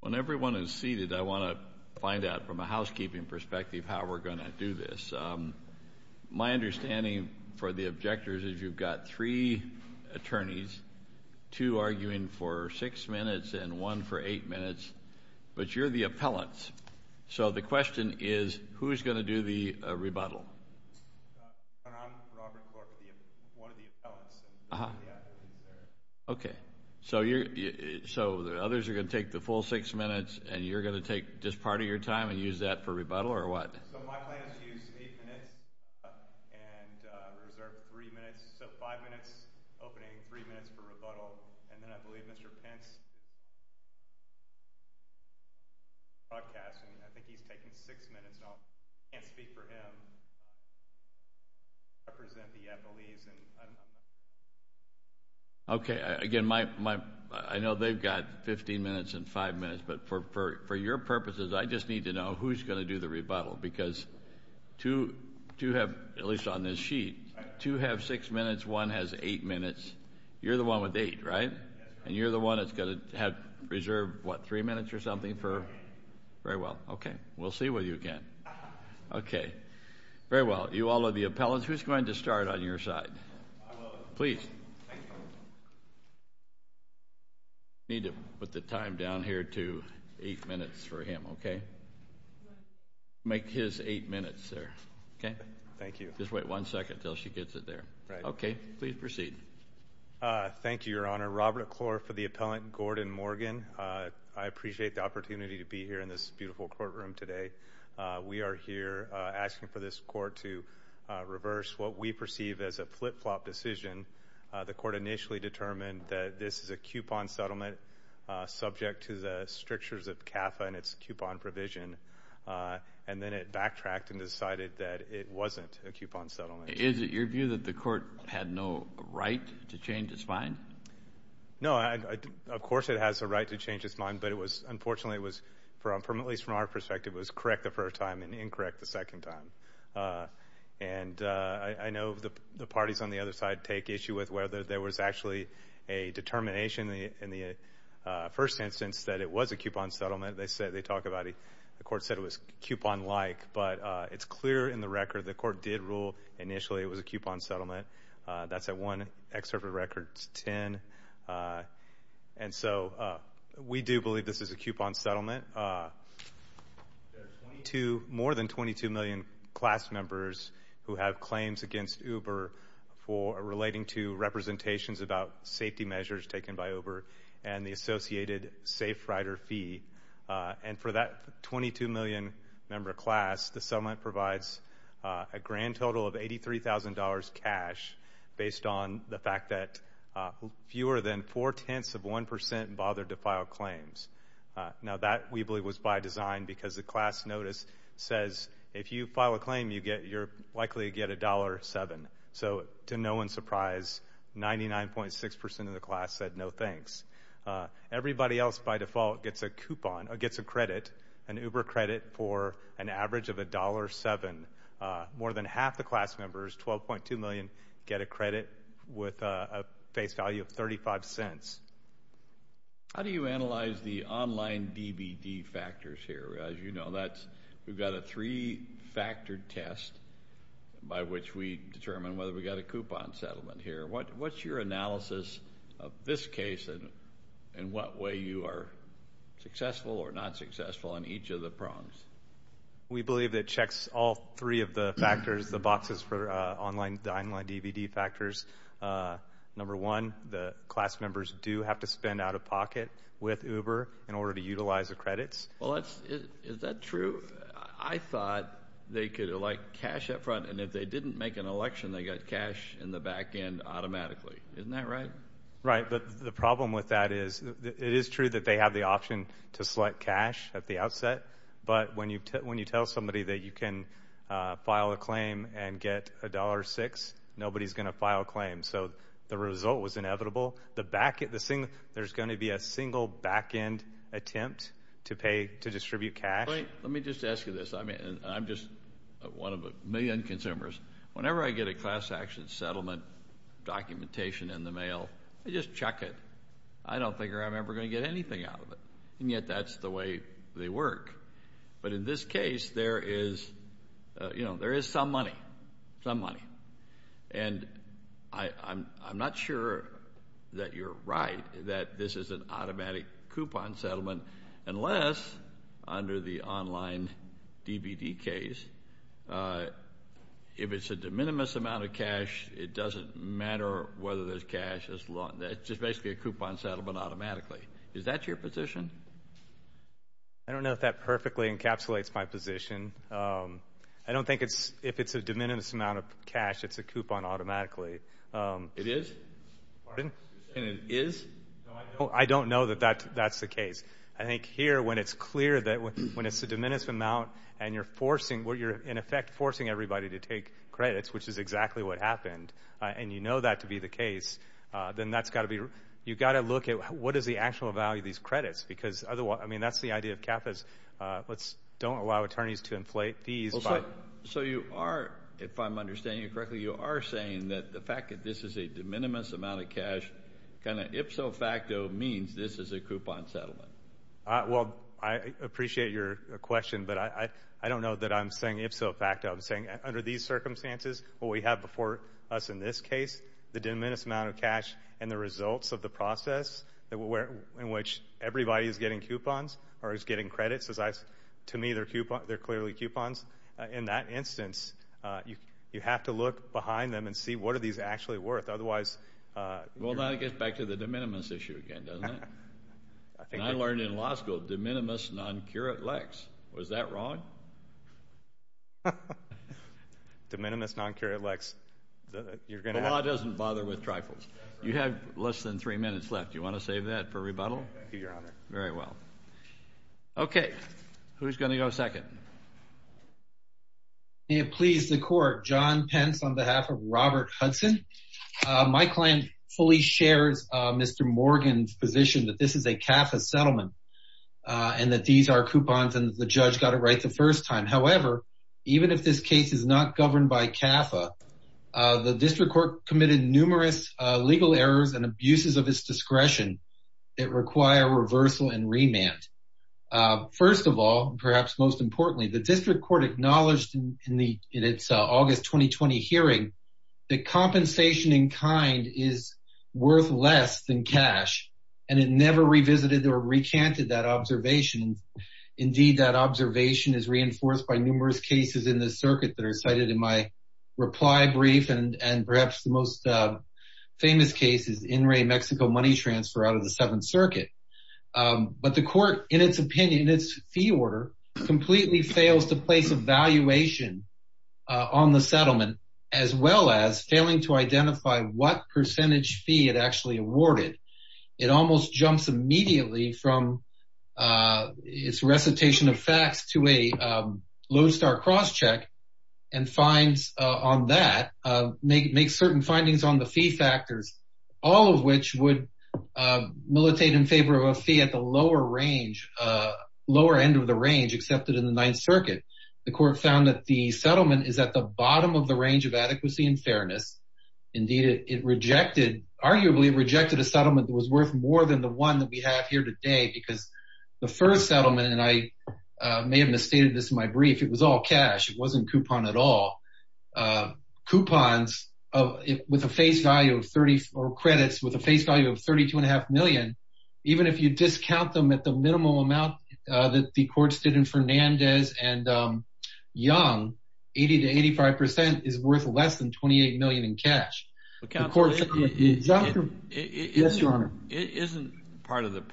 When everyone is seated, I want to find out from a housekeeping perspective how we're going to do this. My understanding for the objectors is you've got three attorneys, two arguing for six minutes and one for eight minutes, but you're the appellants. So the question is, who's going to do the rebuttal? I'm Robert Clark, one of the appellants. Okay, so the others are going to take the full six minutes, and you're going to take just part of your time and use that for rebuttal, or what? So my plan is to use eight minutes and reserve five minutes opening, three minutes for rebuttal. And then I believe Mr. Pence is going to do the broadcast, and I think he's taking six minutes. I can't speak for him. I represent the appellees. Okay, again, I know they've got 15 minutes and five minutes, but for your purposes, I just need to know who's going to do the rebuttal because two have, at least on this sheet, two have six minutes, one has eight minutes. You're the one with eight, right? And you're the one that's going to have reserved, what, three minutes or something for? Very well. Okay. We'll see what you can. Okay. Very well. You all are the appellants. Who's going to start on your side? Please. Need to put the time down here to eight minutes for him, okay? Make his eight minutes there, okay? Thank you. Just wait one second until she gets it there. Right. Okay. Please proceed. Thank you, Your Honor. Robert Clore for the appellant, Gordon Morgan. I appreciate the opportunity to be here in this beautiful courtroom today. We are here asking for this court to reverse what we perceive as a flip-flop decision. The court initially determined that this is a coupon settlement subject to the strictures of CAFA and its coupon provision, and then it backtracked and decided that it wasn't a coupon settlement. Is it your view that the court had no right to change its mind? No. Of course it has a right to change its mind, but it was, unfortunately, it was, at least from our perspective, it was correct the first time and incorrect the second time. And I know the parties on the other side take issue with whether there was actually a determination in the first instance that it was a coupon settlement. They talk about it. The court said it was coupon-like. But it's clear in the record the court did rule initially it was a coupon settlement. That's at one excerpt of record 10. And so we do believe this is a coupon settlement. There are 22, more than 22 million class members who have claims against Uber for relating to representations about safety measures taken by Uber and the associated safe rider fee. And for that 22 million member class, the settlement provides a grand total of $83,000 cash based on the fact that fewer than four-tenths of 1% bothered to file claims. Now that, we believe, was by design because the class notice says if you file a claim, you're likely to get $1.07. So, to no one's surprise, 99.6% of the class said no thanks. Everybody else, by default, gets a coupon, gets a credit, an Uber credit for an average of $1.07. More than half the class members, 12.2 million, get a credit with a face value of $0.35. How do you analyze the online DBD factors here? As you know, we've got a three-factor test by which we determine whether we've got a coupon settlement here. What's your analysis of this case and what way you are successful or not successful on each of the prongs? We believe it checks all three of the factors, the boxes for online DBD factors. Number one, the class members do have to spend out-of-pocket with Uber in order to utilize the credits. Is that true? I thought they could elect cash up front, and if they didn't make an election, they got cash in the back end automatically. Isn't that right? Right, but the problem with that is it is true that they have the option to select cash at the outset, but when you tell somebody that you can file a claim and get $1.06, nobody's going to file a claim. So, the result was inevitable. There's going to be a single back-end attempt to pay to distribute cash. Let me just ask you this. I'm just one of a million consumers. Whenever I get a class action settlement documentation in the mail, I just check it. I don't think I'm ever going to get anything out of it, and yet that's the way they work. But in this case, there is some money, some money, and I'm not sure that you're right that this is an automatic coupon settlement unless, under the online DVD case, if it's a de minimis amount of cash, it doesn't matter whether there's cash. It's just basically a coupon settlement automatically. Is that your position? I don't know if that perfectly encapsulates my position. I don't think if it's a de minimis amount of cash, it's a coupon automatically. It is? Pardon? And it is? No, I don't know that that's the case. I think here, when it's clear that when it's a de minimis amount and you're forcing, you're in effect forcing everybody to take credits, which is exactly what happened, and you know that to be the case, then that's got to be, you've got to look at what is the actual value of these credits because otherwise, I mean, that's the idea of CAFAs. Let's don't allow attorneys to inflate fees. So, you are, if I'm understanding you correctly, you are saying that the fact that this is a de minimis amount of cash, kind of ipso facto means this is a coupon settlement. Well, I appreciate your question, but I don't know that I'm saying ipso facto. I'm saying under these circumstances, what we have before us in this case, the de minimis amount of cash and the results of the process in which everybody is getting coupons or is getting credits. To me, they're clearly coupons. In that instance, you have to look behind them and see what are these actually worth. Otherwise— Well, that gets back to the de minimis issue again, doesn't it? I learned in law school, de minimis non curate lex. Was that wrong? De minimis non curate lex. The law doesn't bother with trifles. You have less than three minutes left. Do you want to save that for rebuttal? Thank you, Your Honor. Very well. Okay, who's going to go second? May it please the court. John Pence on behalf of Robert Hudson. My client fully shares Mr. Morgan's position that this is a CAFA settlement and that these are coupons and the judge got it right the first time. However, even if this case is not governed by CAFA, the district court committed numerous legal errors and abuses of its discretion that require reversal and remand. First of all, perhaps most importantly, the district court acknowledged in its August 2020 hearing that compensation in kind is worth less than cash, and it never revisited or recanted that observation. Indeed, that observation is reinforced by numerous cases in the circuit that are cited in my reply brief, and perhaps the most famous case is In Re Mexico money transfer out of the Seventh Circuit. But the court, in its opinion, in its fee order, completely fails to place a valuation on the settlement, as well as failing to identify what percentage fee it actually awarded. It almost jumps immediately from its recitation of facts to a lodestar crosscheck and finds on that, make certain findings on the fee factors, all of which would militate in favor of a fee at the lower range, lower end of the range accepted in the Ninth Circuit. The court found that the settlement is at the bottom of the range of adequacy and fairness. Indeed, it rejected, arguably rejected a settlement that was worth more than the one that we have here today because the first settlement, and I may have misstated this in my brief, it was all cash. It wasn't coupon at all. Coupons with a face value of 30 or credits with a face value of 32 and a half million, even if you discount them at the minimum amount that the courts did in Fernandez and Young, 80 to 85% is worth less than 28 million in cash. The court. Yes, Your Honor. The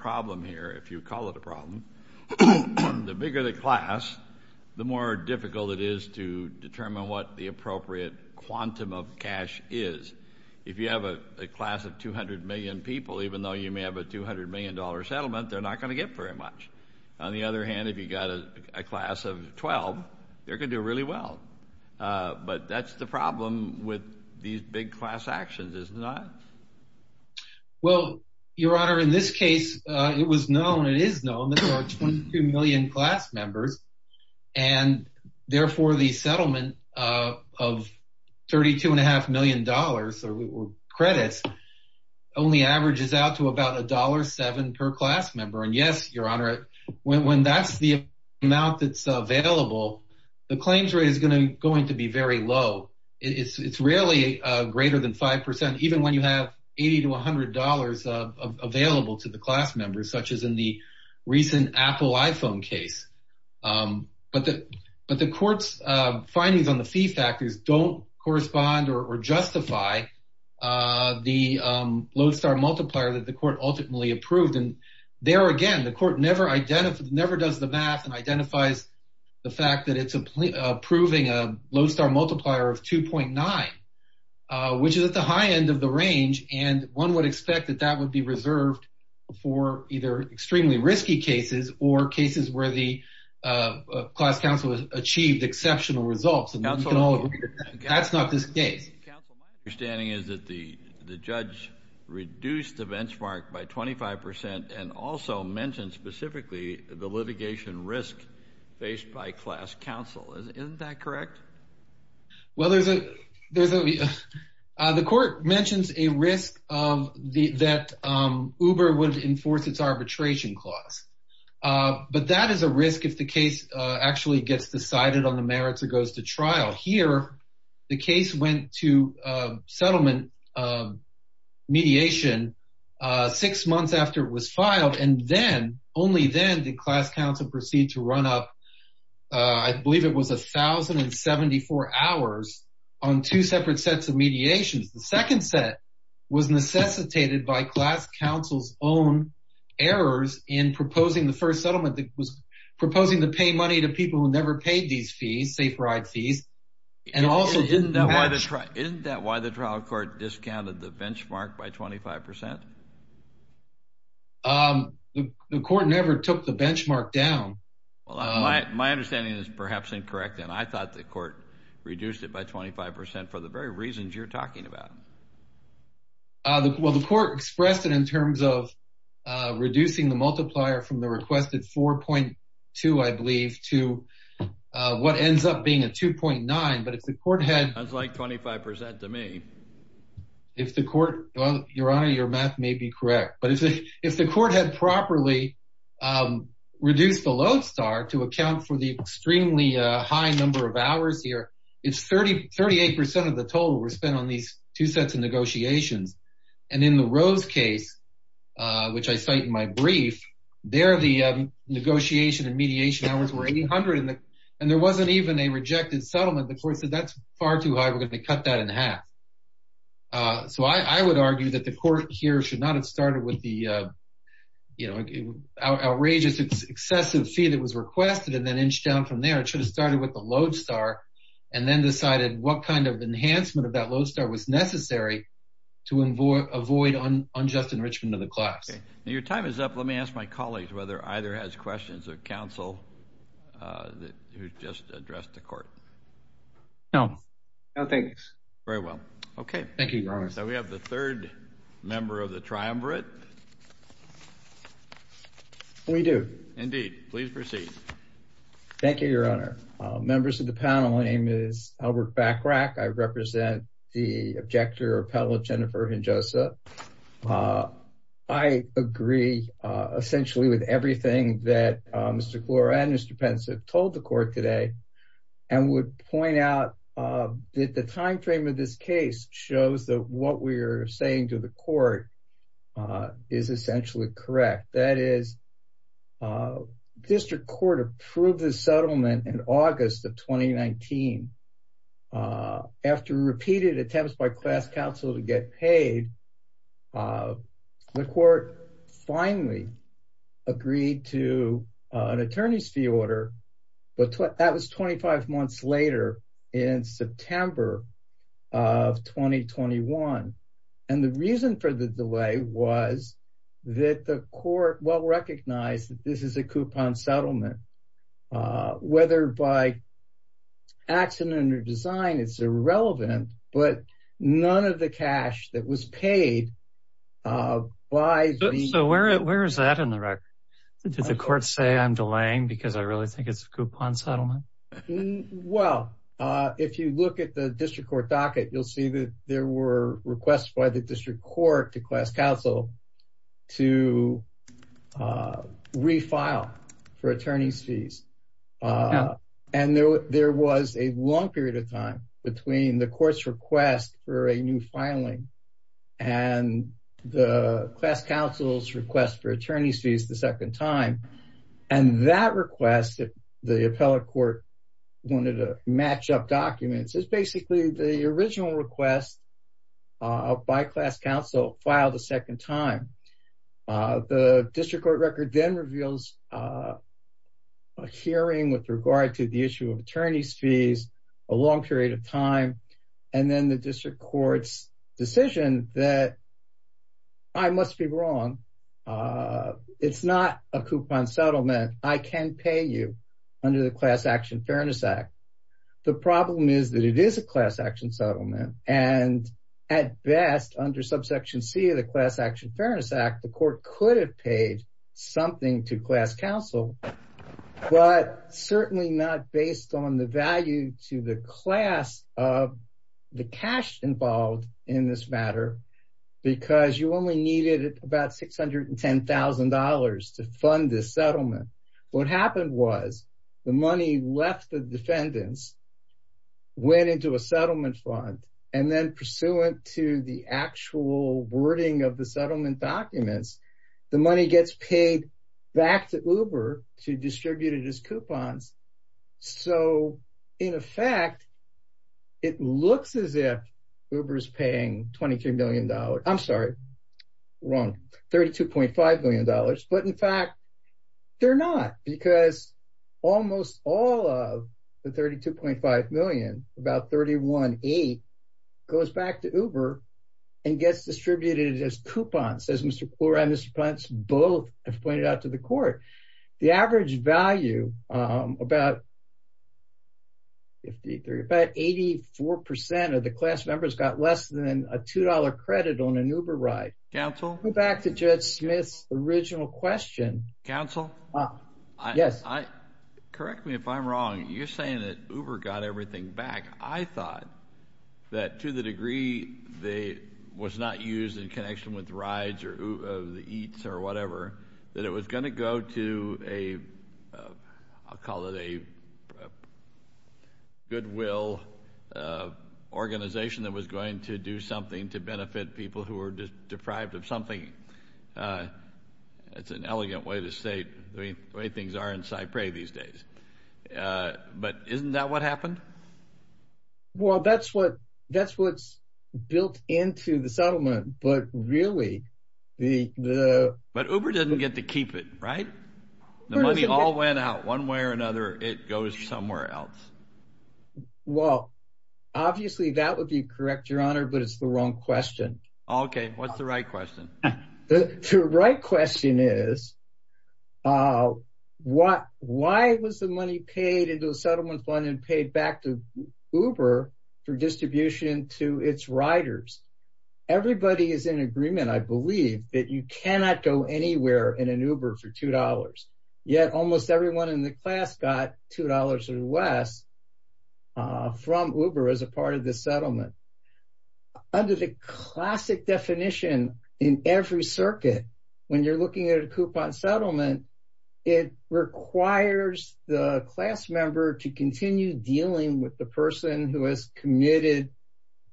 bigger the class, the more difficult it is to determine what the appropriate quantum of cash is. If you have a class of 200 million people, even though you may have a $200 million settlement, they're not going to get very much. On the other hand, if you've got a class of 12, they're going to do really well. But that's the problem with these big class actions, isn't it? Well, Your Honor, in this case, it was known, it is known that there are 22 million class members and therefore the settlement of 32 and a half million dollars or credits only averages out to about $1.7 per class member. And yes, Your Honor, when that's the amount that's available, the claims rate is going to be very low. It's rarely greater than 5% even when you have 80 to $100 available to the class members, such as in the recent Apple iPhone case. But the court's findings on the fee factors don't correspond or justify the Lodestar multiplier that the court ultimately approved. And there again, the court never does the math and identifies the fact that it's approving a Lodestar multiplier of 2.9, which is at the high end of the range. And one would expect that that would be reserved for either extremely risky cases or cases where the class counsel has achieved exceptional results. And that's not this case. Counsel, my understanding is that the judge reduced the benchmark by 25% and also mentioned specifically the litigation risk faced by class counsel. Isn't that correct? Well, the court mentions a risk that Uber would enforce its arbitration clause. But that is a risk if the case actually gets decided on the merits or goes to trial. Here, the case went to settlement mediation six months after it was filed. And then, only then, did class counsel proceed to run up, I believe it was 1,074 hours on two separate sets of mediations. The second set was necessitated by class counsel's own errors in proposing the first settlement that was proposing to pay money to people who never paid these fees, safe ride fees. Isn't that why the trial court discounted the benchmark by 25%? The court never took the benchmark down. Well, my understanding is perhaps incorrect, and I thought the court reduced it by 25% for the very reasons you're talking about. Well, the court expressed it in terms of reducing the multiplier from the requested 4.2, I believe, to what ends up being a 2.9. That sounds like 25% to me. Your Honor, your math may be correct, but if the court had properly reduced the load star to account for the extremely high number of hours here, it's 38% of the total were spent on these two sets of negotiations. And in the Rose case, which I cite in my brief, there the negotiation and mediation hours were 800, and there wasn't even a rejected settlement. The court said that's far too high, we're going to cut that in half. So I would argue that the court here should not have started with the outrageous excessive fee that was requested and then inched down from there. It should have started with the load star and then decided what kind of enhancement of that load star was necessary to avoid unjust enrichment of the class. Your time is up. Let me ask my colleagues whether either has questions of counsel who just addressed the court. No. No, thanks. Very well. Okay. Thank you, Your Honor. So we have the third member of the triumvirate. We do. Indeed. Please proceed. Thank you, Your Honor. Members of the panel, my name is Albert Bachrach. I represent the Objector Appellate Jennifer Hinojosa. I agree essentially with everything that Mr. Klor and Mr. Penza told the court today and would point out that the timeframe of this case shows that what we are saying to the court is essentially correct. That is, district court approved the settlement in August of 2019. After repeated attempts by class counsel to get paid, the court finally agreed to an attorney's fee order, but that was 25 months later in September of 2021. And the reason for the delay was that the court well recognized that this is a coupon settlement. Whether by accident or design, it's irrelevant, but none of the cash that was paid by the… So where is that in the record? Did the court say I'm delaying because I really think it's a coupon settlement? Well, if you look at the district court docket, you'll see that there were requests by the district court to class counsel to re-file for attorney's fees. And there was a long period of time between the court's request for a new filing and the class counsel's request for attorney's fees the second time. And that request, the appellate court wanted to match up documents, is basically the original request by class counsel filed a second time. The district court record then reveals a hearing with regard to the issue of attorney's fees, a long period of time, and then the district court's decision that I must be wrong. It's not a coupon settlement. I can pay you under the Class Action Fairness Act. The problem is that it is a class action settlement, and at best under subsection C of the Class Action Fairness Act, the court could have paid something to class counsel, but certainly not based on the value to the class of the cash involved in this matter because you only needed about $610,000 to fund this settlement. What happened was the money left the defendants, went into a settlement fund, and then pursuant to the actual wording of the settlement documents, the money gets paid back to Uber to distribute it as coupons. So in effect, it looks as if Uber is paying $22 million. I'm sorry, wrong, $32.5 million. But in fact, they're not because almost all of the $32.5 million, about $31.8 million, goes back to Uber and gets distributed as coupons, as Mr. Klor and Mr. Puntz both have pointed out to the court. The average value, about 84% of the class members got less than a $2 credit on an Uber ride. Counsel? Go back to Judge Smith's original question. Counsel? Yes. Correct me if I'm wrong. You're saying that Uber got everything back. I thought that to the degree it was not used in connection with rides or eats or whatever, that it was going to go to a, I'll call it a goodwill organization that was going to do something to benefit people who were deprived of something. It's an elegant way to say the way things are in Cypress these days. But isn't that what happened? Well, that's what's built into the settlement. But really, the – But Uber didn't get to keep it, right? The money all went out one way or another. It goes somewhere else. Well, obviously, that would be correct, Your Honor, but it's the wrong question. Okay. What's the right question? The right question is why was the money paid into a settlement fund and paid back to Uber for distribution to its riders? Everybody is in agreement, I believe, that you cannot go anywhere in an Uber for $2. Yet almost everyone in the class got $2 or less from Uber as a part of the settlement. Under the classic definition in every circuit, when you're looking at a coupon settlement, it requires the class member to continue dealing with the person who has committed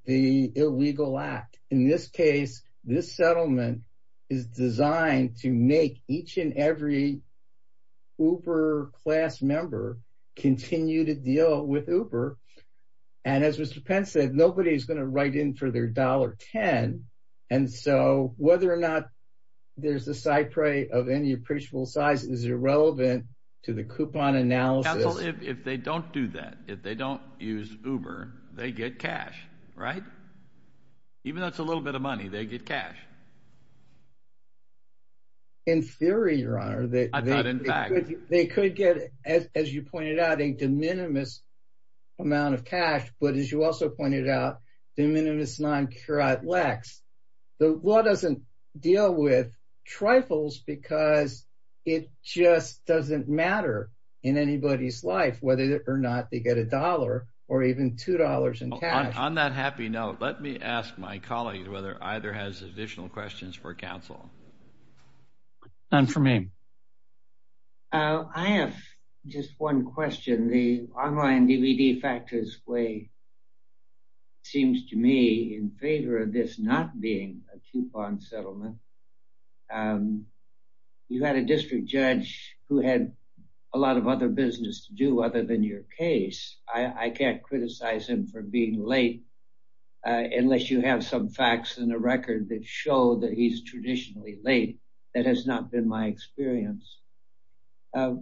the illegal act. In this case, this settlement is designed to make each and every Uber class member continue to deal with Uber. And as Mr. Pence said, nobody is going to write in for their $1.10. And so whether or not there's a Cypress of any appreciable size is irrelevant to the coupon analysis. Counsel, if they don't do that, if they don't use Uber, they get cash, right? Even though it's a little bit of money, they get cash. In theory, Your Honor, they could get, as you pointed out, a de minimis amount of cash, but as you also pointed out, de minimis non curat lex. The law doesn't deal with trifles because it just doesn't matter in anybody's life whether or not they get $1 or even $2 in cash. On that happy note, let me ask my colleague whether either has additional questions for counsel. None for me. I have just one question. The online DVD factors way seems to me in favor of this not being a coupon settlement. You had a district judge who had a lot of other business to do other than your case. I can't criticize him for being late unless you have some facts in the record that show that he's traditionally late. That has not been my experience. But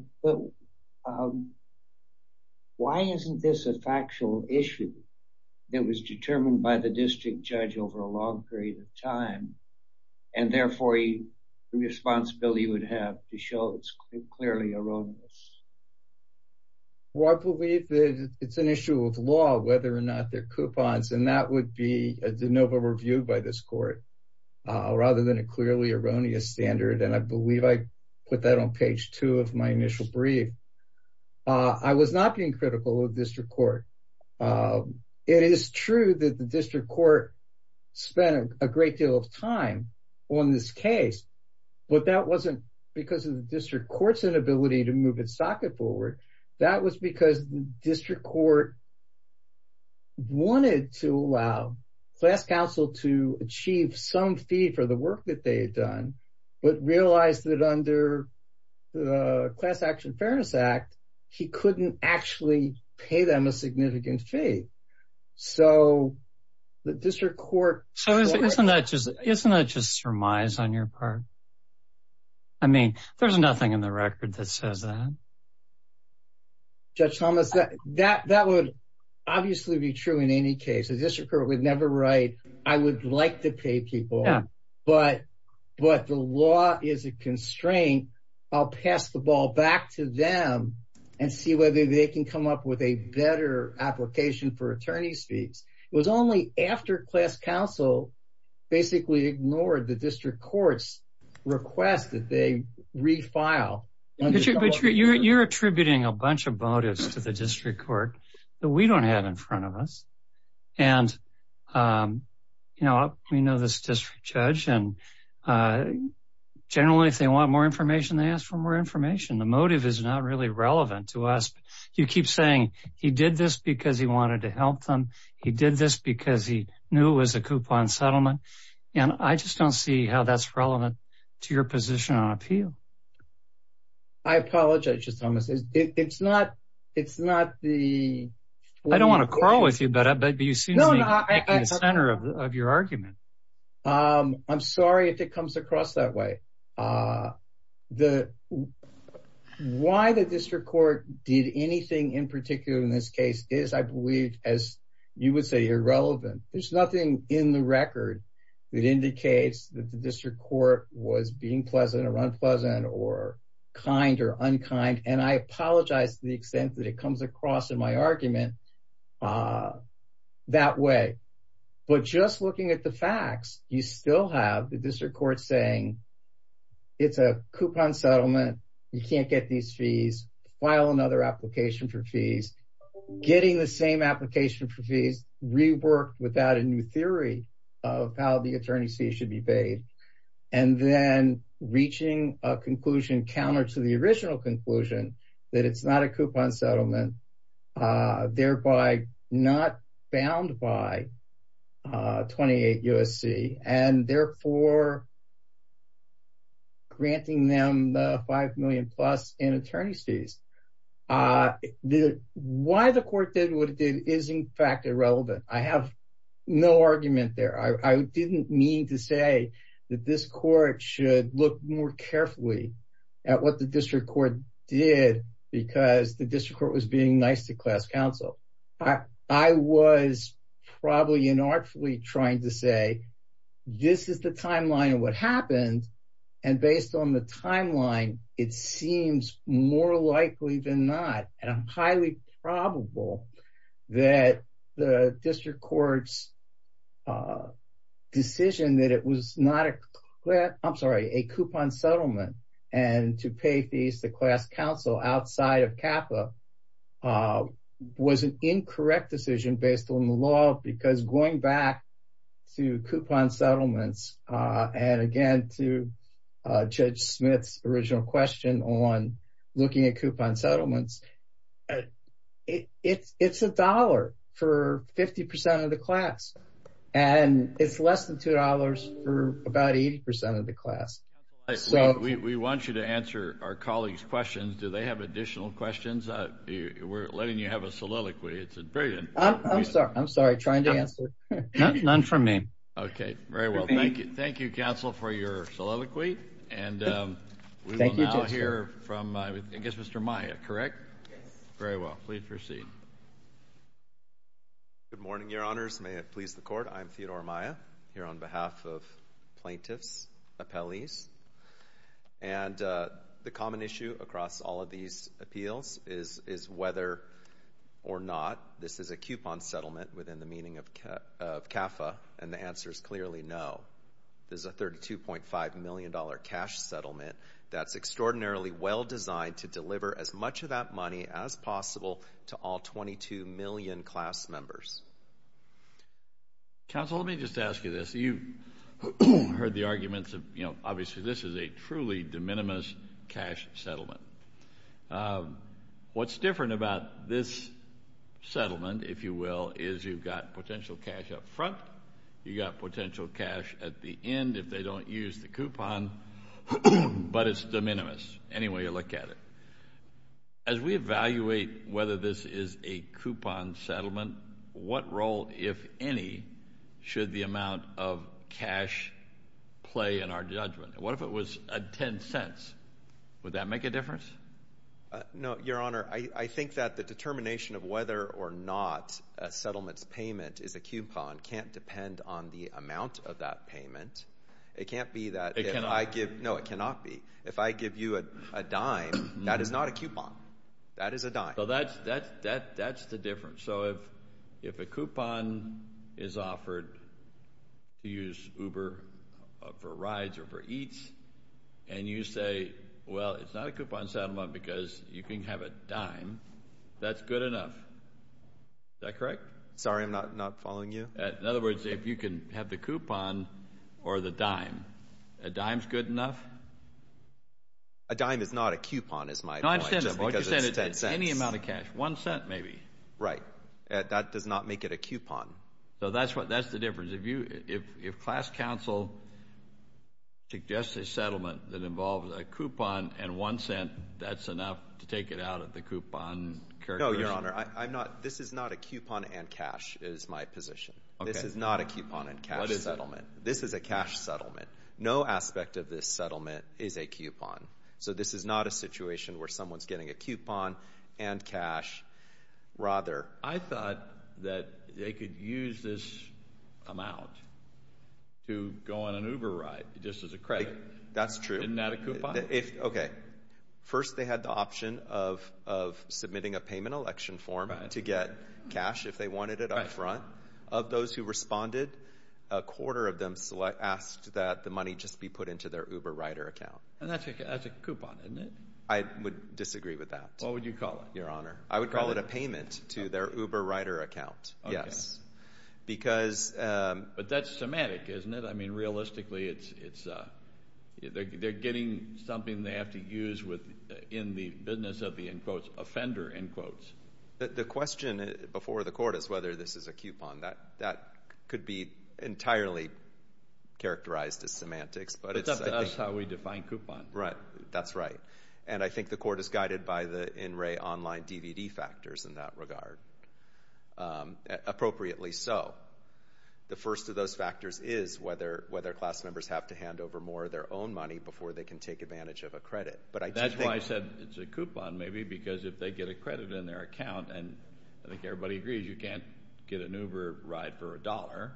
why isn't this a factual issue that was determined by the district judge over a long period of time and therefore the responsibility you would have to show it's clearly erroneous? Well, I believe it's an issue of law whether or not they're coupons and that would be a de novo review by this court rather than a clearly erroneous standard and I believe I put that on page 2 of my initial brief. I was not being critical of the district court. It is true that the district court spent a great deal of time on this case, but that wasn't because of the district court's inability to move its socket forward. That was because the district court wanted to allow class counsel to achieve some fee for the work that they had done but realized that under the Class Action Fairness Act, he couldn't actually pay them a significant fee. So the district court... So isn't that just surmise on your part? I mean, there's nothing in the record that says that. Judge Thomas, that would obviously be true in any case. The district court would never write, I would like to pay people, but the law is a constraint. I'll pass the ball back to them and see whether they can come up with a better application for attorney's fees. It was only after class counsel basically ignored the district court's request that they refile. But you're attributing a bunch of motives to the district court that we don't have in front of us. And we know this district judge, and generally if they want more information, they ask for more information. The motive is not really relevant to us. You keep saying he did this because he wanted to help them. He did this because he knew it was a coupon settlement. And I just don't see how that's relevant to your position on appeal. I apologize, Judge Thomas. It's not the... I don't want to quarrel with you, but you seem to be at the center of your argument. I'm sorry if it comes across that way. The... Why the district court did anything in particular in this case is, I believe, as you would say, irrelevant. There's nothing in the record that indicates that the district court was being pleasant or unpleasant or kind or unkind. And I apologize to the extent that it comes across in my argument that way. But just looking at the facts, you still have the district court saying it's a coupon settlement. You can't get these fees. File another application for fees. Getting the same application for fees reworked without a new theory of how the attorney's fees should be paid. And then reaching a conclusion counter to the original conclusion that it's not a coupon settlement, thereby not bound by 28 U.S.C., and therefore granting them the $5 million-plus in attorney's fees. Why the court did what it did is, in fact, irrelevant. I have no argument there. I didn't mean to say that this court should look more carefully at what the district court did because the district court was being nice to class counsel. I was probably inartfully trying to say, this is the timeline of what happened, and based on the timeline, it seems more likely than not, and highly probable, that the district court's decision that it was not a coupon settlement and to pay fees to class counsel outside of CAFA was an incorrect decision based on the law because going back to coupon settlements and again to Judge Smith's original question on looking at coupon settlements, it's $1 for 50% of the class, and it's less than $2 for about 80% of the class. We want you to answer our colleagues' questions. Do they have additional questions? We're letting you have a soliloquy. It's brilliant. I'm sorry. I'm sorry. I'm trying to answer. None for me. Okay. Very well. Thank you. Thank you, counsel, for your soliloquy, and we will now hear from, I guess, Mr. Maia, correct? Yes. Very well. Please proceed. Good morning, Your Honors. May it please the Court. I'm Theodore Maia here on behalf of plaintiffs, appellees, and the common issue across all of these appeals is whether or not this is a coupon settlement within the meaning of CAFA, and the answer is clearly no. This is a $32.5 million cash settlement that's extraordinarily well designed to deliver as much of that money as possible to all 22 million class members. Counsel, let me just ask you this. You've heard the arguments of, you know, obviously this is a truly de minimis cash settlement. What's different about this settlement, if you will, is you've got potential cash up front, you've got potential cash at the end if they don't use the coupon, but it's de minimis anyway you look at it. As we evaluate whether this is a coupon settlement, what role, if any, should the amount of cash play in our judgment? What if it was $0.10? Would that make a difference? No, Your Honor. I think that the determination of whether or not a settlement's payment is a coupon can't depend on the amount of that payment. It can't be that if I give— It cannot. No, it cannot be. If I give you a dime, that is not a coupon. That is a dime. So that's the difference. So if a coupon is offered to use Uber for rides or for eats, and you say, well, it's not a coupon settlement because you can have a dime, that's good enough. Is that correct? Sorry, I'm not following you. In other words, if you can have the coupon or the dime, a dime's good enough? A dime is not a coupon is my point, just because it's $0.10. No, I understand. What you're saying is any amount of cash, $0.01 maybe. Right. That does not make it a coupon. So that's the difference. If class counsel suggests a settlement that involves a coupon and $0.01, that's enough to take it out of the coupon. No, Your Honor. This is not a coupon and cash is my position. This is not a coupon and cash settlement. What is it? This is a cash settlement. No aspect of this settlement is a coupon. So this is not a situation where someone's getting a coupon and cash. I thought that they could use this amount to go on an Uber ride just as a credit. That's true. Isn't that a coupon? Okay. First, they had the option of submitting a payment election form to get cash if they wanted it up front. Of those who responded, a quarter of them asked that the money just be put into their Uber rider account. And that's a coupon, isn't it? I would disagree with that. What would you call it? Your Honor, I would call it a payment to their Uber rider account. Okay. Yes. But that's somatic, isn't it? I mean, realistically, they're getting something they have to use in the business of the, in quotes, offender, in quotes. The question before the court is whether this is a coupon. That could be entirely characterized as semantics. But that's how we define coupon. Right. That's right. And I think the court is guided by the in re online DVD factors in that regard. Appropriately so. The first of those factors is whether class members have to hand over more of their own money before they can take advantage of a credit. That's why I said it's a coupon, maybe, because if they get a credit in their account, and I think everybody agrees you can't get an Uber ride for a dollar,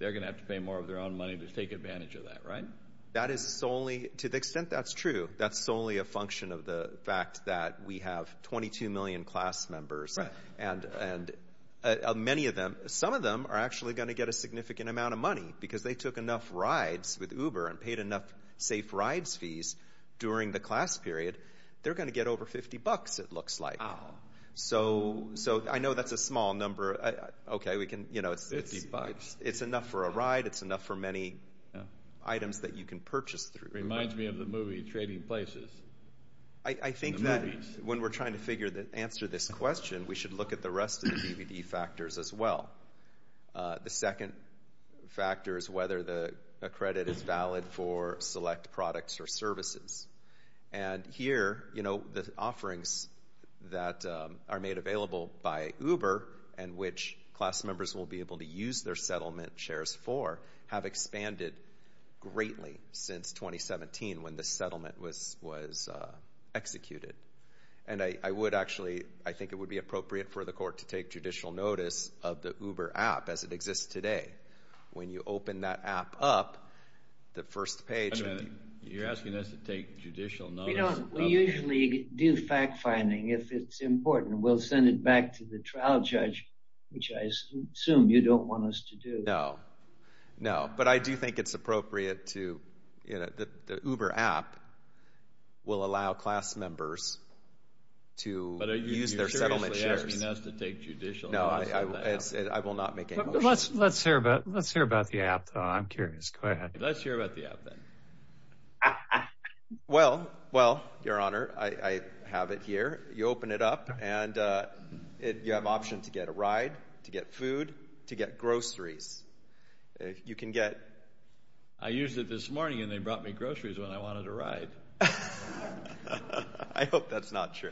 they're going to have to pay more of their own money to take advantage of that, right? That is solely, to the extent that's true, that's solely a function of the fact that we have 22 million class members. Right. And many of them, some of them are actually going to get a significant amount of money because they took enough rides with Uber and paid enough safe rides fees during the class period. They're going to get over 50 bucks, it looks like. Wow. So I know that's a small number. Okay. 50 bucks. It's enough for a ride. It's enough for many items that you can purchase through. Reminds me of the movie Trading Places. The movies. When we're trying to answer this question, we should look at the rest of the DVD factors as well. The second factor is whether a credit is valid for select products or services. And here, you know, the offerings that are made available by Uber and which class members will be able to use their settlement shares for have expanded greatly since 2017 when the settlement was executed. And I would actually, I think it would be appropriate for the court to take judicial notice of the Uber app as it exists today. When you open that app up, the first page. Wait a minute. You're asking us to take judicial notice. We usually do fact-finding if it's important. We'll send it back to the trial judge, which I assume you don't want us to do. No. No. But I do think it's appropriate to, you know, the Uber app will allow class members to use their settlement shares. But you're seriously asking us to take judicial notice of the app. No, I will not make any motion. Let's hear about the app, though. I'm curious. Go ahead. Let's hear about the app, then. Well, well, Your Honor, I have it here. You open it up, and you have options to get a ride, to get food, to get groceries. You can get... I used it this morning, and they brought me groceries when I wanted a ride. I hope that's not true.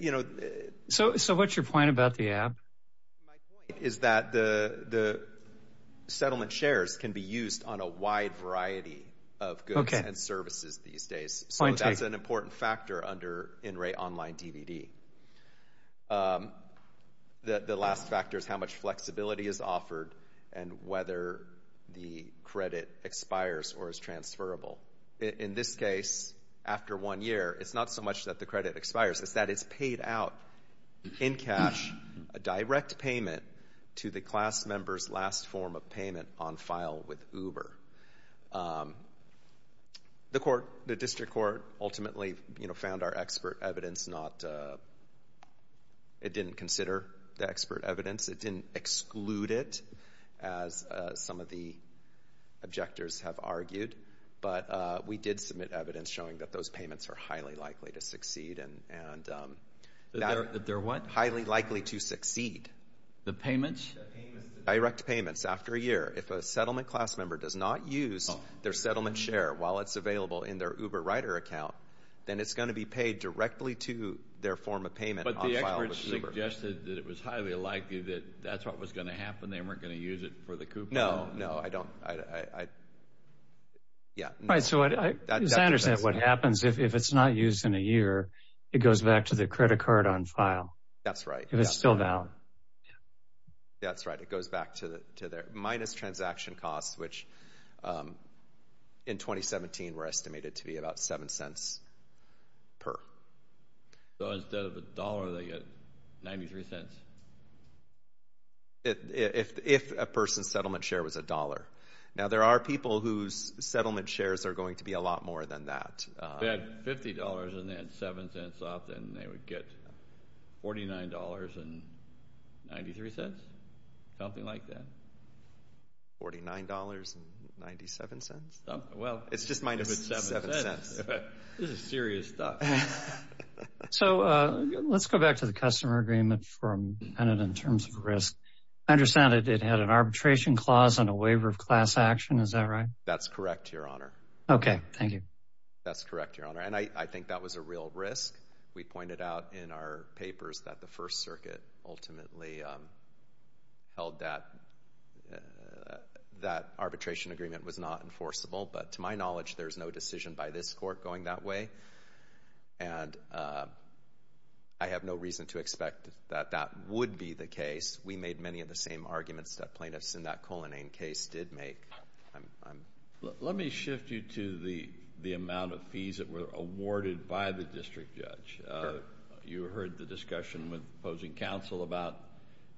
You know... So what's your point about the app? My point is that the settlement shares can be used on a wide variety of goods and services these days. So that's an important factor under in-rate online DVD. The last factor is how much flexibility is offered and whether the credit expires or is transferable. In this case, after one year, it's not so much that the credit expires. It's that it's paid out in cash, a direct payment to the class member's last form of payment on file with Uber. The District Court ultimately found our expert evidence not... It didn't consider the expert evidence. It didn't exclude it, as some of the objectors have argued. But we did submit evidence showing that those payments are highly likely to succeed. That they're what? Highly likely to succeed. The payments? The direct payments after a year. If a settlement class member does not use their settlement share while it's available in their Uber Rider account, then it's going to be paid directly to their form of payment on file with Uber. But the experts suggested that it was highly likely that that's what was going to happen. They weren't going to use it for the coupon. No, no, I don't... Yeah. Right, so I understand what happens if it's not used in a year. It goes back to the credit card on file. That's right. If it's still valid. That's right. It goes back to their minus transaction costs, which in 2017 were estimated to be about $0.07 per. So instead of a dollar, they get $0.93? $0.97. If a person's settlement share was a dollar. Now, there are people whose settlement shares are going to be a lot more than that. If they had $50 and they had $0.07 off, then they would get $49.93? Something like that. $49.97? Well... It's just minus $0.07. This is serious stuff. So let's go back to the customer agreement from Bennett in terms of risk. I understand it had an arbitration clause and a waiver of class action. Is that right? That's correct, Your Honor. Okay, thank you. That's correct, Your Honor. And I think that was a real risk. We pointed out in our papers that the First Circuit ultimately held that that arbitration agreement was not enforceable. But to my knowledge, there's no decision by this Court going that way. And I have no reason to expect that that would be the case. We made many of the same arguments that plaintiffs in that Colonnane case did make. Let me shift you to the amount of fees that were awarded by the district judge. You heard the discussion with opposing counsel about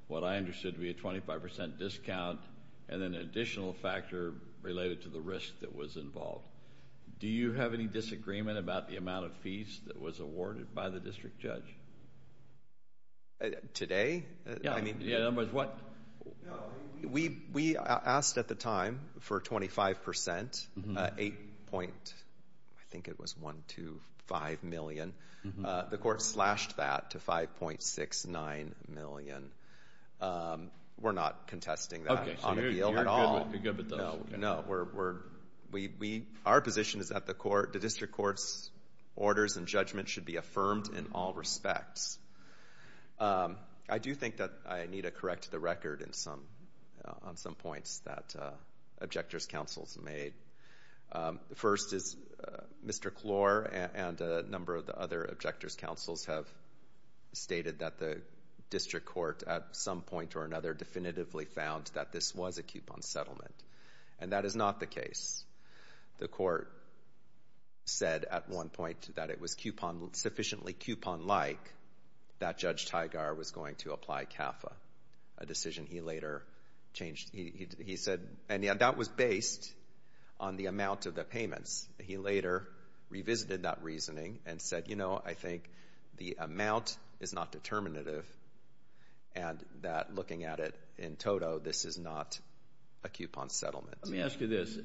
what I understood to be a 25% discount and an additional factor related to the risk that was involved. Do you have any disagreement about the amount of fees that was awarded by the district judge? Yeah. In other words, what? No. We asked at the time for 25%. Eight point, I think it was one, two, five million. The Court slashed that to 5.69 million. We're not contesting that on a deal at all. Okay, so you're good with those. No. Our position is that the district court's orders and judgment should be affirmed in all respects. I do think that I need to correct the record on some points that objectors' counsels made. First is Mr. Klor and a number of the other objectors' counsels have stated that the district court, at some point or another, definitively found that this was a coupon settlement. And that is not the case. The Court said at one point that it was sufficiently coupon-like that Judge Tygar was going to apply CAFA, a decision he later changed. He said that was based on the amount of the payments. He later revisited that reasoning and said, you know, I think the amount is not determinative and that looking at it in toto, this is not a coupon settlement. Let me ask you this.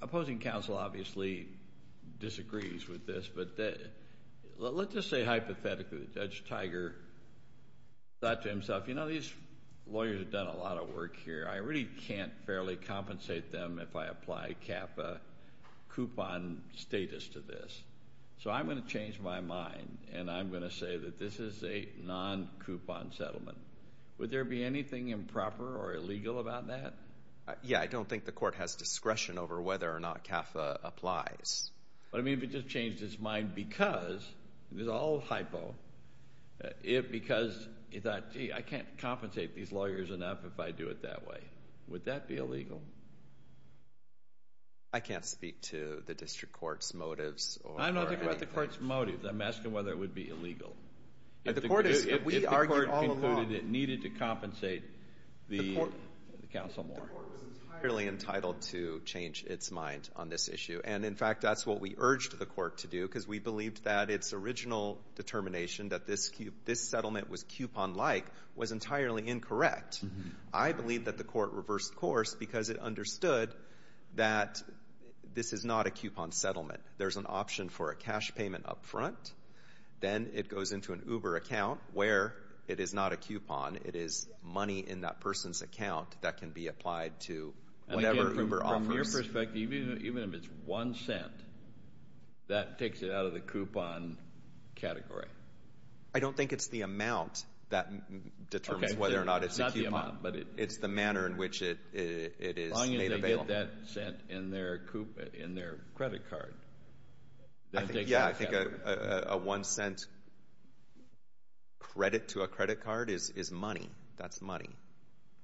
Opposing counsel obviously disagrees with this, but let's just say hypothetically that Judge Tygar thought to himself, you know, these lawyers have done a lot of work here. I really can't fairly compensate them if I apply CAFA coupon status to this. So I'm going to change my mind and I'm going to say that this is a non-coupon settlement. Would there be anything improper or illegal about that? Yeah, I don't think the Court has discretion over whether or not CAFA applies. But, I mean, if it just changed its mind because, this is all hypo, if because he thought, gee, I can't compensate these lawyers enough if I do it that way. Would that be illegal? I can't speak to the District Court's motives or anything. I'm not talking about the Court's motives. I'm asking whether it would be illegal. If the Court concluded it needed to compensate the counsel more. The Court was entirely entitled to change its mind on this issue. And, in fact, that's what we urged the Court to do because we believed that its original determination that this settlement was coupon-like was entirely incorrect. I believe that the Court reversed course because it understood that this is not a coupon settlement. There's an option for a cash payment up front. Then it goes into an Uber account where it is not a coupon. It is money in that person's account that can be applied to whatever Uber offers. From your perspective, even if it's one cent, that takes it out of the coupon category. I don't think it's the amount that determines whether or not it's a coupon. It's the manner in which it is made available. As long as they get that cent in their credit card. Yeah, I think a one-cent credit to a credit card is money. That's money.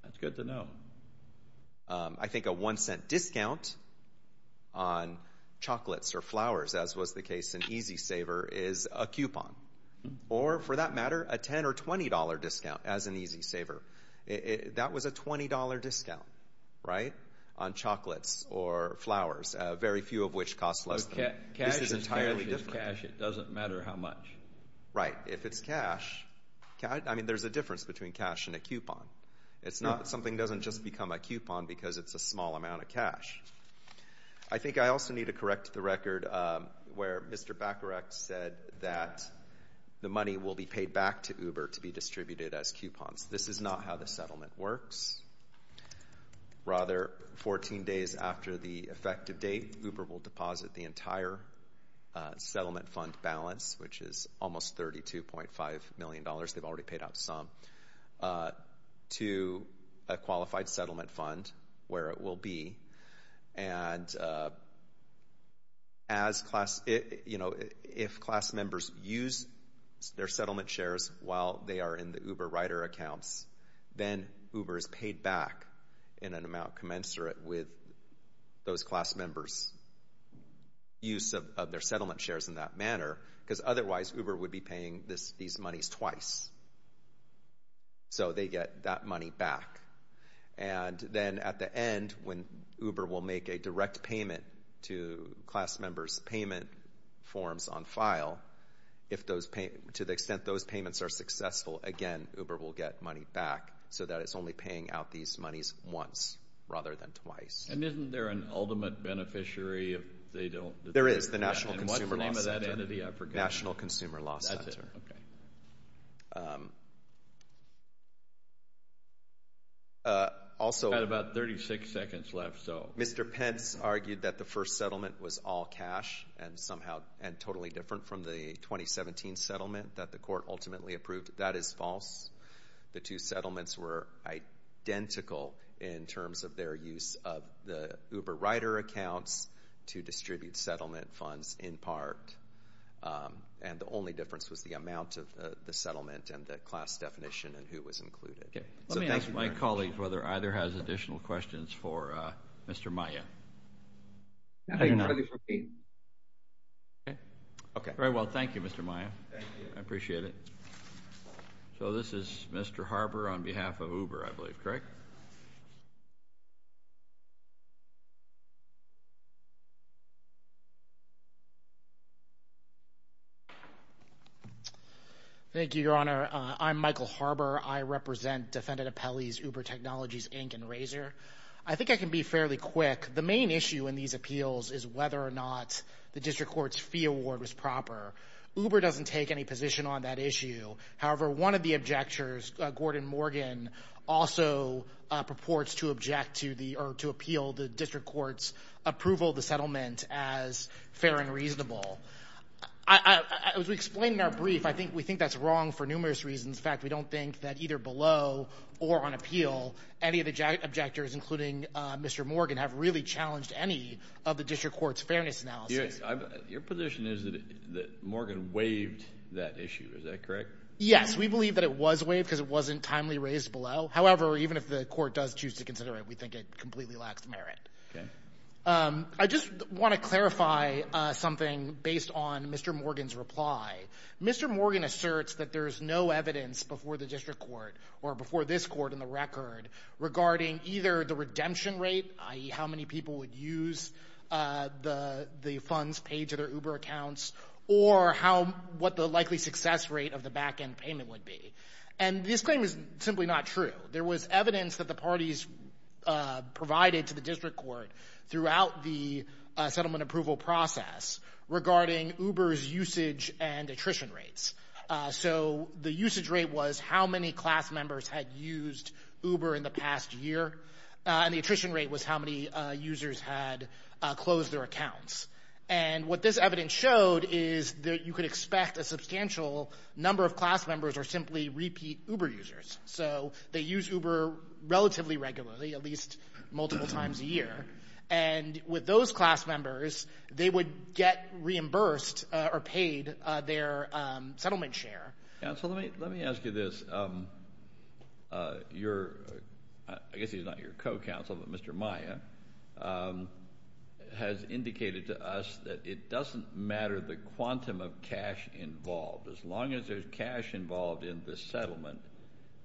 That's good to know. I think a one-cent discount on chocolates or flowers, as was the case in EasySaver, is a coupon. Or, for that matter, a $10 or $20 discount as in EasySaver. That was a $20 discount on chocolates or flowers, very few of which cost less than that. Cash is cash. It doesn't matter how much. Right. If it's cash, there's a difference between cash and a coupon. It's not that something doesn't just become a coupon because it's a small amount of cash. I think I also need to correct the record where Mr. Bacharach said that the money will be paid back to Uber to be distributed as coupons. This is not how the settlement works. Rather, 14 days after the effective date, Uber will deposit the entire settlement fund balance, which is almost $32.5 million. They've already paid out some, to a qualified settlement fund where it will be. If class members use their settlement shares while they are in the Uber Rider accounts, then Uber is paid back in an amount commensurate with those class members' use of their settlement shares in that manner. Otherwise, Uber would be paying these monies twice, so they get that money back. Then at the end, when Uber will make a direct payment to class members' payment forms on file, to the extent those payments are successful, again, Uber will get money back so that it's only paying out these monies once rather than twice. Isn't there an ultimate beneficiary? There is. The National Consumer Law Center. What's the name of that entity? I forget. National Consumer Law Center. That's it. Okay. We've got about 36 seconds left. Mr. Pence argued that the first settlement was all cash and somehow totally different from the 2017 settlement that the court ultimately approved. That is false. The two settlements were identical in terms of their use of the Uber Rider accounts to distribute settlement funds in part, and the only difference was the amount of the settlement and the class definition and who was included. Let me ask my colleague whether either has additional questions for Mr. Maia. Very well. Thank you, Mr. Maia. Thank you. I appreciate it. So this is Mr. Harber on behalf of Uber, I believe, correct? Thank you, Your Honor. I'm Michael Harber. I represent Defendant Appellee's Uber Technologies, Inc. and Razor. I think I can be fairly quick. The main issue in these appeals is whether or not the district court's fee award was proper. Uber doesn't take any position on that issue. However, one of the objectors, Gordon Morgan, also purports to appeal the district court's approval of the settlement as fair and reasonable. As we explained in our brief, I think we think that's wrong for numerous reasons. In fact, we don't think that either below or on appeal, any of the objectors, including Mr. Morgan, have really challenged any of the district court's fairness analysis. Your position is that Morgan waived that issue. Is that correct? Yes. We believe that it was waived because it wasn't timely raised below. However, even if the court does choose to consider it, we think it completely lacks merit. Okay. I just want to clarify something based on Mr. Morgan's reply. Mr. Morgan asserts that there is no evidence before the district court or before this court in the record regarding either the redemption rate, i.e., how many people would use the funds paid to their Uber accounts, or what the likely success rate of the back-end payment would be. And this claim is simply not true. There was evidence that the parties provided to the district court throughout the settlement approval process regarding Uber's usage and attrition rates. So the usage rate was how many class members had used Uber in the past year, and the attrition rate was how many users had closed their accounts. And what this evidence showed is that you could expect a substantial number of class members or simply repeat Uber users. So they use Uber relatively regularly, at least multiple times a year. And with those class members, they would get reimbursed or paid their settlement share. Counsel, let me ask you this. I guess he's not your co-counsel, but Mr. Maya has indicated to us that it doesn't matter the quantum of cash involved. As long as there's cash involved in the settlement,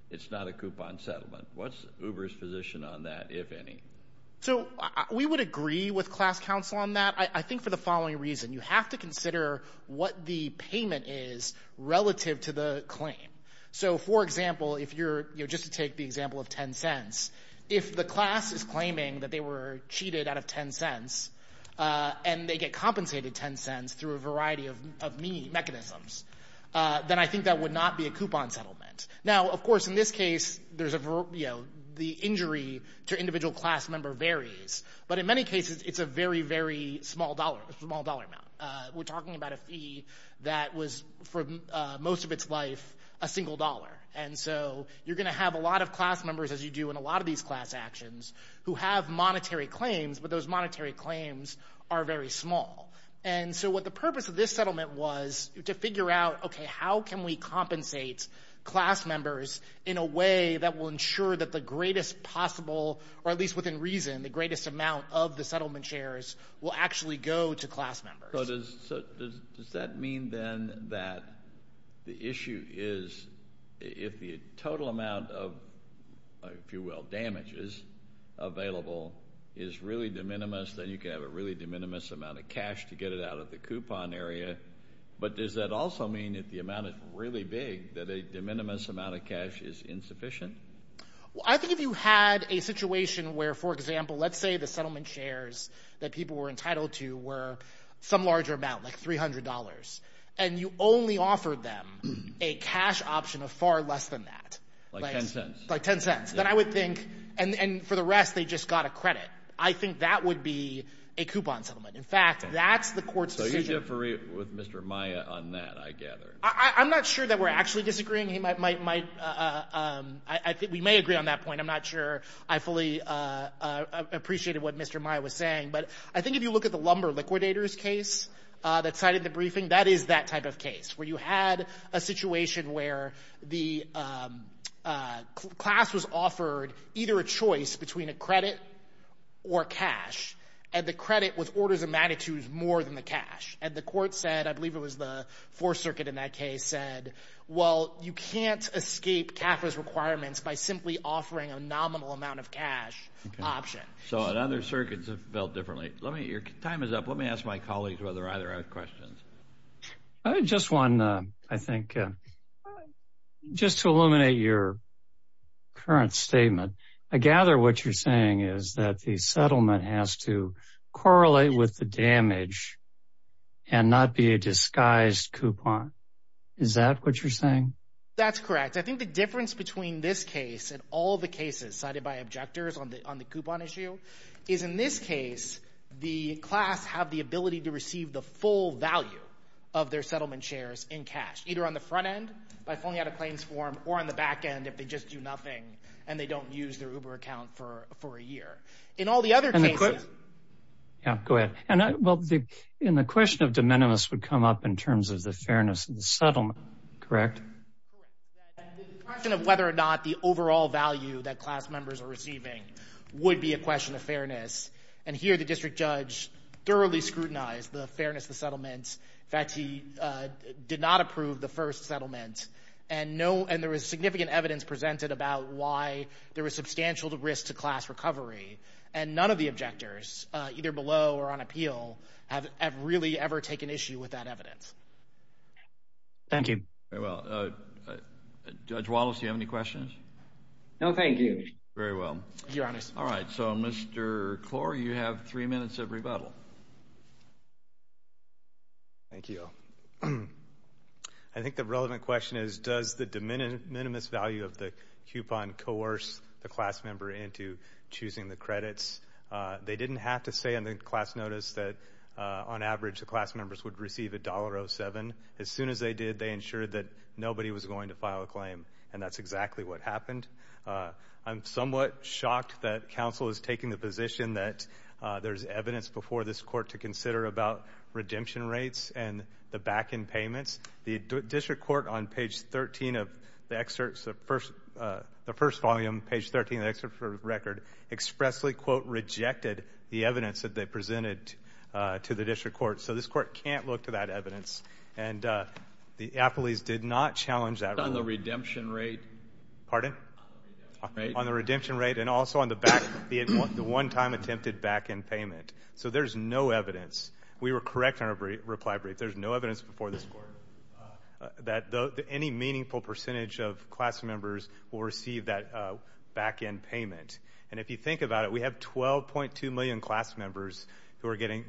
it's not a coupon settlement. What's Uber's position on that, if any? So we would agree with class counsel on that, I think, for the following reason. You have to consider what the payment is relative to the claim. So, for example, just to take the example of $0.10, if the class is claiming that they were cheated out of $0.10, and they get compensated $0.10 through a variety of mechanisms, then I think that would not be a coupon settlement. Now, of course, in this case, the injury to individual class member varies. But in many cases, it's a very, very small dollar amount. We're talking about a fee that was for most of its life a single dollar. And so you're going to have a lot of class members, as you do in a lot of these class actions, who have monetary claims, but those monetary claims are very small. And so what the purpose of this settlement was to figure out, okay, how can we compensate class members in a way that will ensure that the greatest possible, or at least within reason, the greatest amount of the settlement shares will actually go to class members. So does that mean, then, that the issue is if the total amount of, if you will, damages available is really de minimis, then you can have a really de minimis amount of cash to get it out of the coupon area. But does that also mean, if the amount is really big, that a de minimis amount of cash is insufficient? I think if you had a situation where, for example, let's say the settlement shares that people were entitled to were some larger amount, like $300, and you only offered them a cash option of far less than that. Like $0.10. Like $0.10. Then I would think, and for the rest, they just got a credit. I think that would be a coupon settlement. In fact, that's the court's decision. So you differ with Mr. Maya on that, I gather. I'm not sure that we're actually disagreeing. We may agree on that point. I'm not sure I fully appreciated what Mr. Maya was saying. But I think if you look at the lumber liquidators case that cited the briefing, that is that type of case, where you had a situation where the class was offered either a choice between a credit or cash, and the credit was orders of magnitudes more than the cash. And the court said, I believe it was the Fourth Circuit in that case, said, well, you can't escape CAFRA's requirements by simply offering a nominal amount of cash option. So other circuits have felt differently. Your time is up. Let me ask my colleagues whether either have questions. Just one, I think. Just to illuminate your current statement, I gather what you're saying is that the settlement has to correlate with the damage and not be a disguised coupon. Is that what you're saying? That's correct. I think the difference between this case and all the cases cited by objectors on the coupon issue is, in this case, the class have the ability to receive the full value of their settlement shares in cash, either on the front end by filling out a claims form or on the back end if they just do nothing and they don't use their Uber account for a year. In all the other cases – Go ahead. Well, in the question of de minimis would come up in terms of the fairness of the settlement, correct? Correct. The question of whether or not the overall value that class members are receiving would be a question of fairness. And here the district judge thoroughly scrutinized the fairness of the settlement. In fact, he did not approve the first settlement, and there was significant evidence presented about why there was substantial risk to class recovery, and none of the objectors, either below or on appeal, have really ever taken issue with that evidence. Thank you. Very well. Judge Wallace, do you have any questions? No, thank you. Very well. Thank you, Your Honor. All right. So, Mr. Klor, you have three minutes of rebuttal. Thank you. I think the relevant question is, does the de minimis value of the coupon coerce the class member into choosing the credits? They didn't have to say in the class notice that, on average, the class members would receive $1.07. As soon as they did, they ensured that nobody was going to file a claim, and that's exactly what happened. I'm somewhat shocked that counsel is taking the position that there's evidence before this court to consider about redemption rates and the back-end payments. The district court, on page 13 of the excerpts, the first volume, page 13 of the excerpt from the record, expressly, quote, rejected the evidence that they presented to the district court. So this court can't look to that evidence, and the appellees did not challenge that. What about on the redemption rate? Pardon? On the redemption rate and also on the one-time attempted back-end payment. So there's no evidence. We were correct in our reply brief. There's no evidence before this court that any meaningful percentage of class members will receive that back-end payment. And if you think about it, we have 12.2 million class members who are getting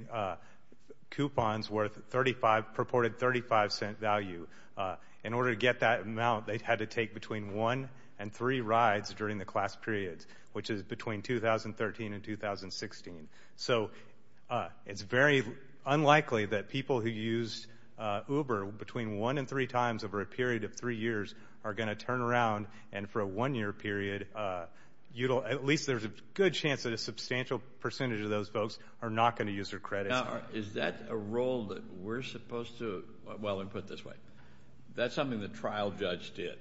coupons worth purported $0.35 value. In order to get that amount, they had to take between one and three rides during the class periods, which is between 2013 and 2016. So it's very unlikely that people who used Uber between one and three times over a period of three years are going to turn around and for a one-year period, at least there's a good chance that a substantial percentage of those folks are not going to use their credits. Now, is that a role that we're supposed to – well, let me put it this way. That's something the trial judge did.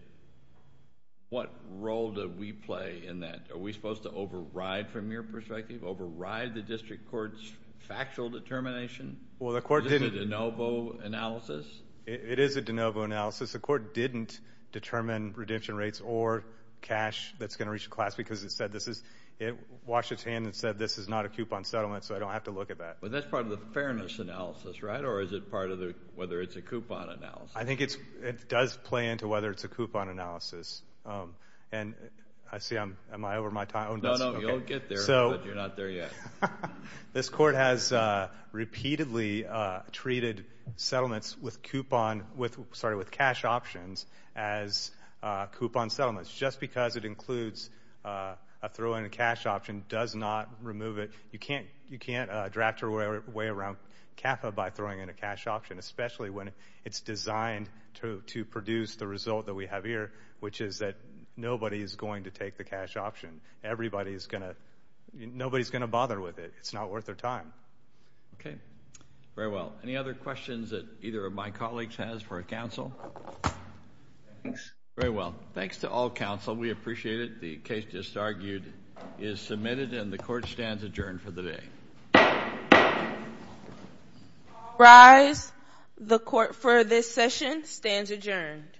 What role do we play in that? Are we supposed to override from your perspective, override the district court's factual determination? Well, the court didn't. Is this a de novo analysis? It is a de novo analysis. The court didn't determine redemption rates or cash that's going to reach the class because it said this is – it washed its hands and said this is not a coupon settlement, so I don't have to look at that. But that's part of the fairness analysis, right? Or is it part of whether it's a coupon analysis? I think it does play into whether it's a coupon analysis. And I see I'm – am I over my time? No, no, you'll get there, but you're not there yet. This court has repeatedly treated settlements with coupon – sorry, with cash options as coupon settlements just because it includes a throw-in and cash option does not remove it. You can't draft your way around CAFA by throwing in a cash option, especially when it's designed to produce the result that we have here, which is that nobody is going to take the cash option. Everybody is going to – nobody is going to bother with it. It's not worth their time. Okay. Very well. Any other questions that either of my colleagues has for counsel? Thanks. Very well. Thanks to all counsel. We appreciate it. The case just argued is submitted and the court stands adjourned for the day. All rise. The court for this session stands adjourned.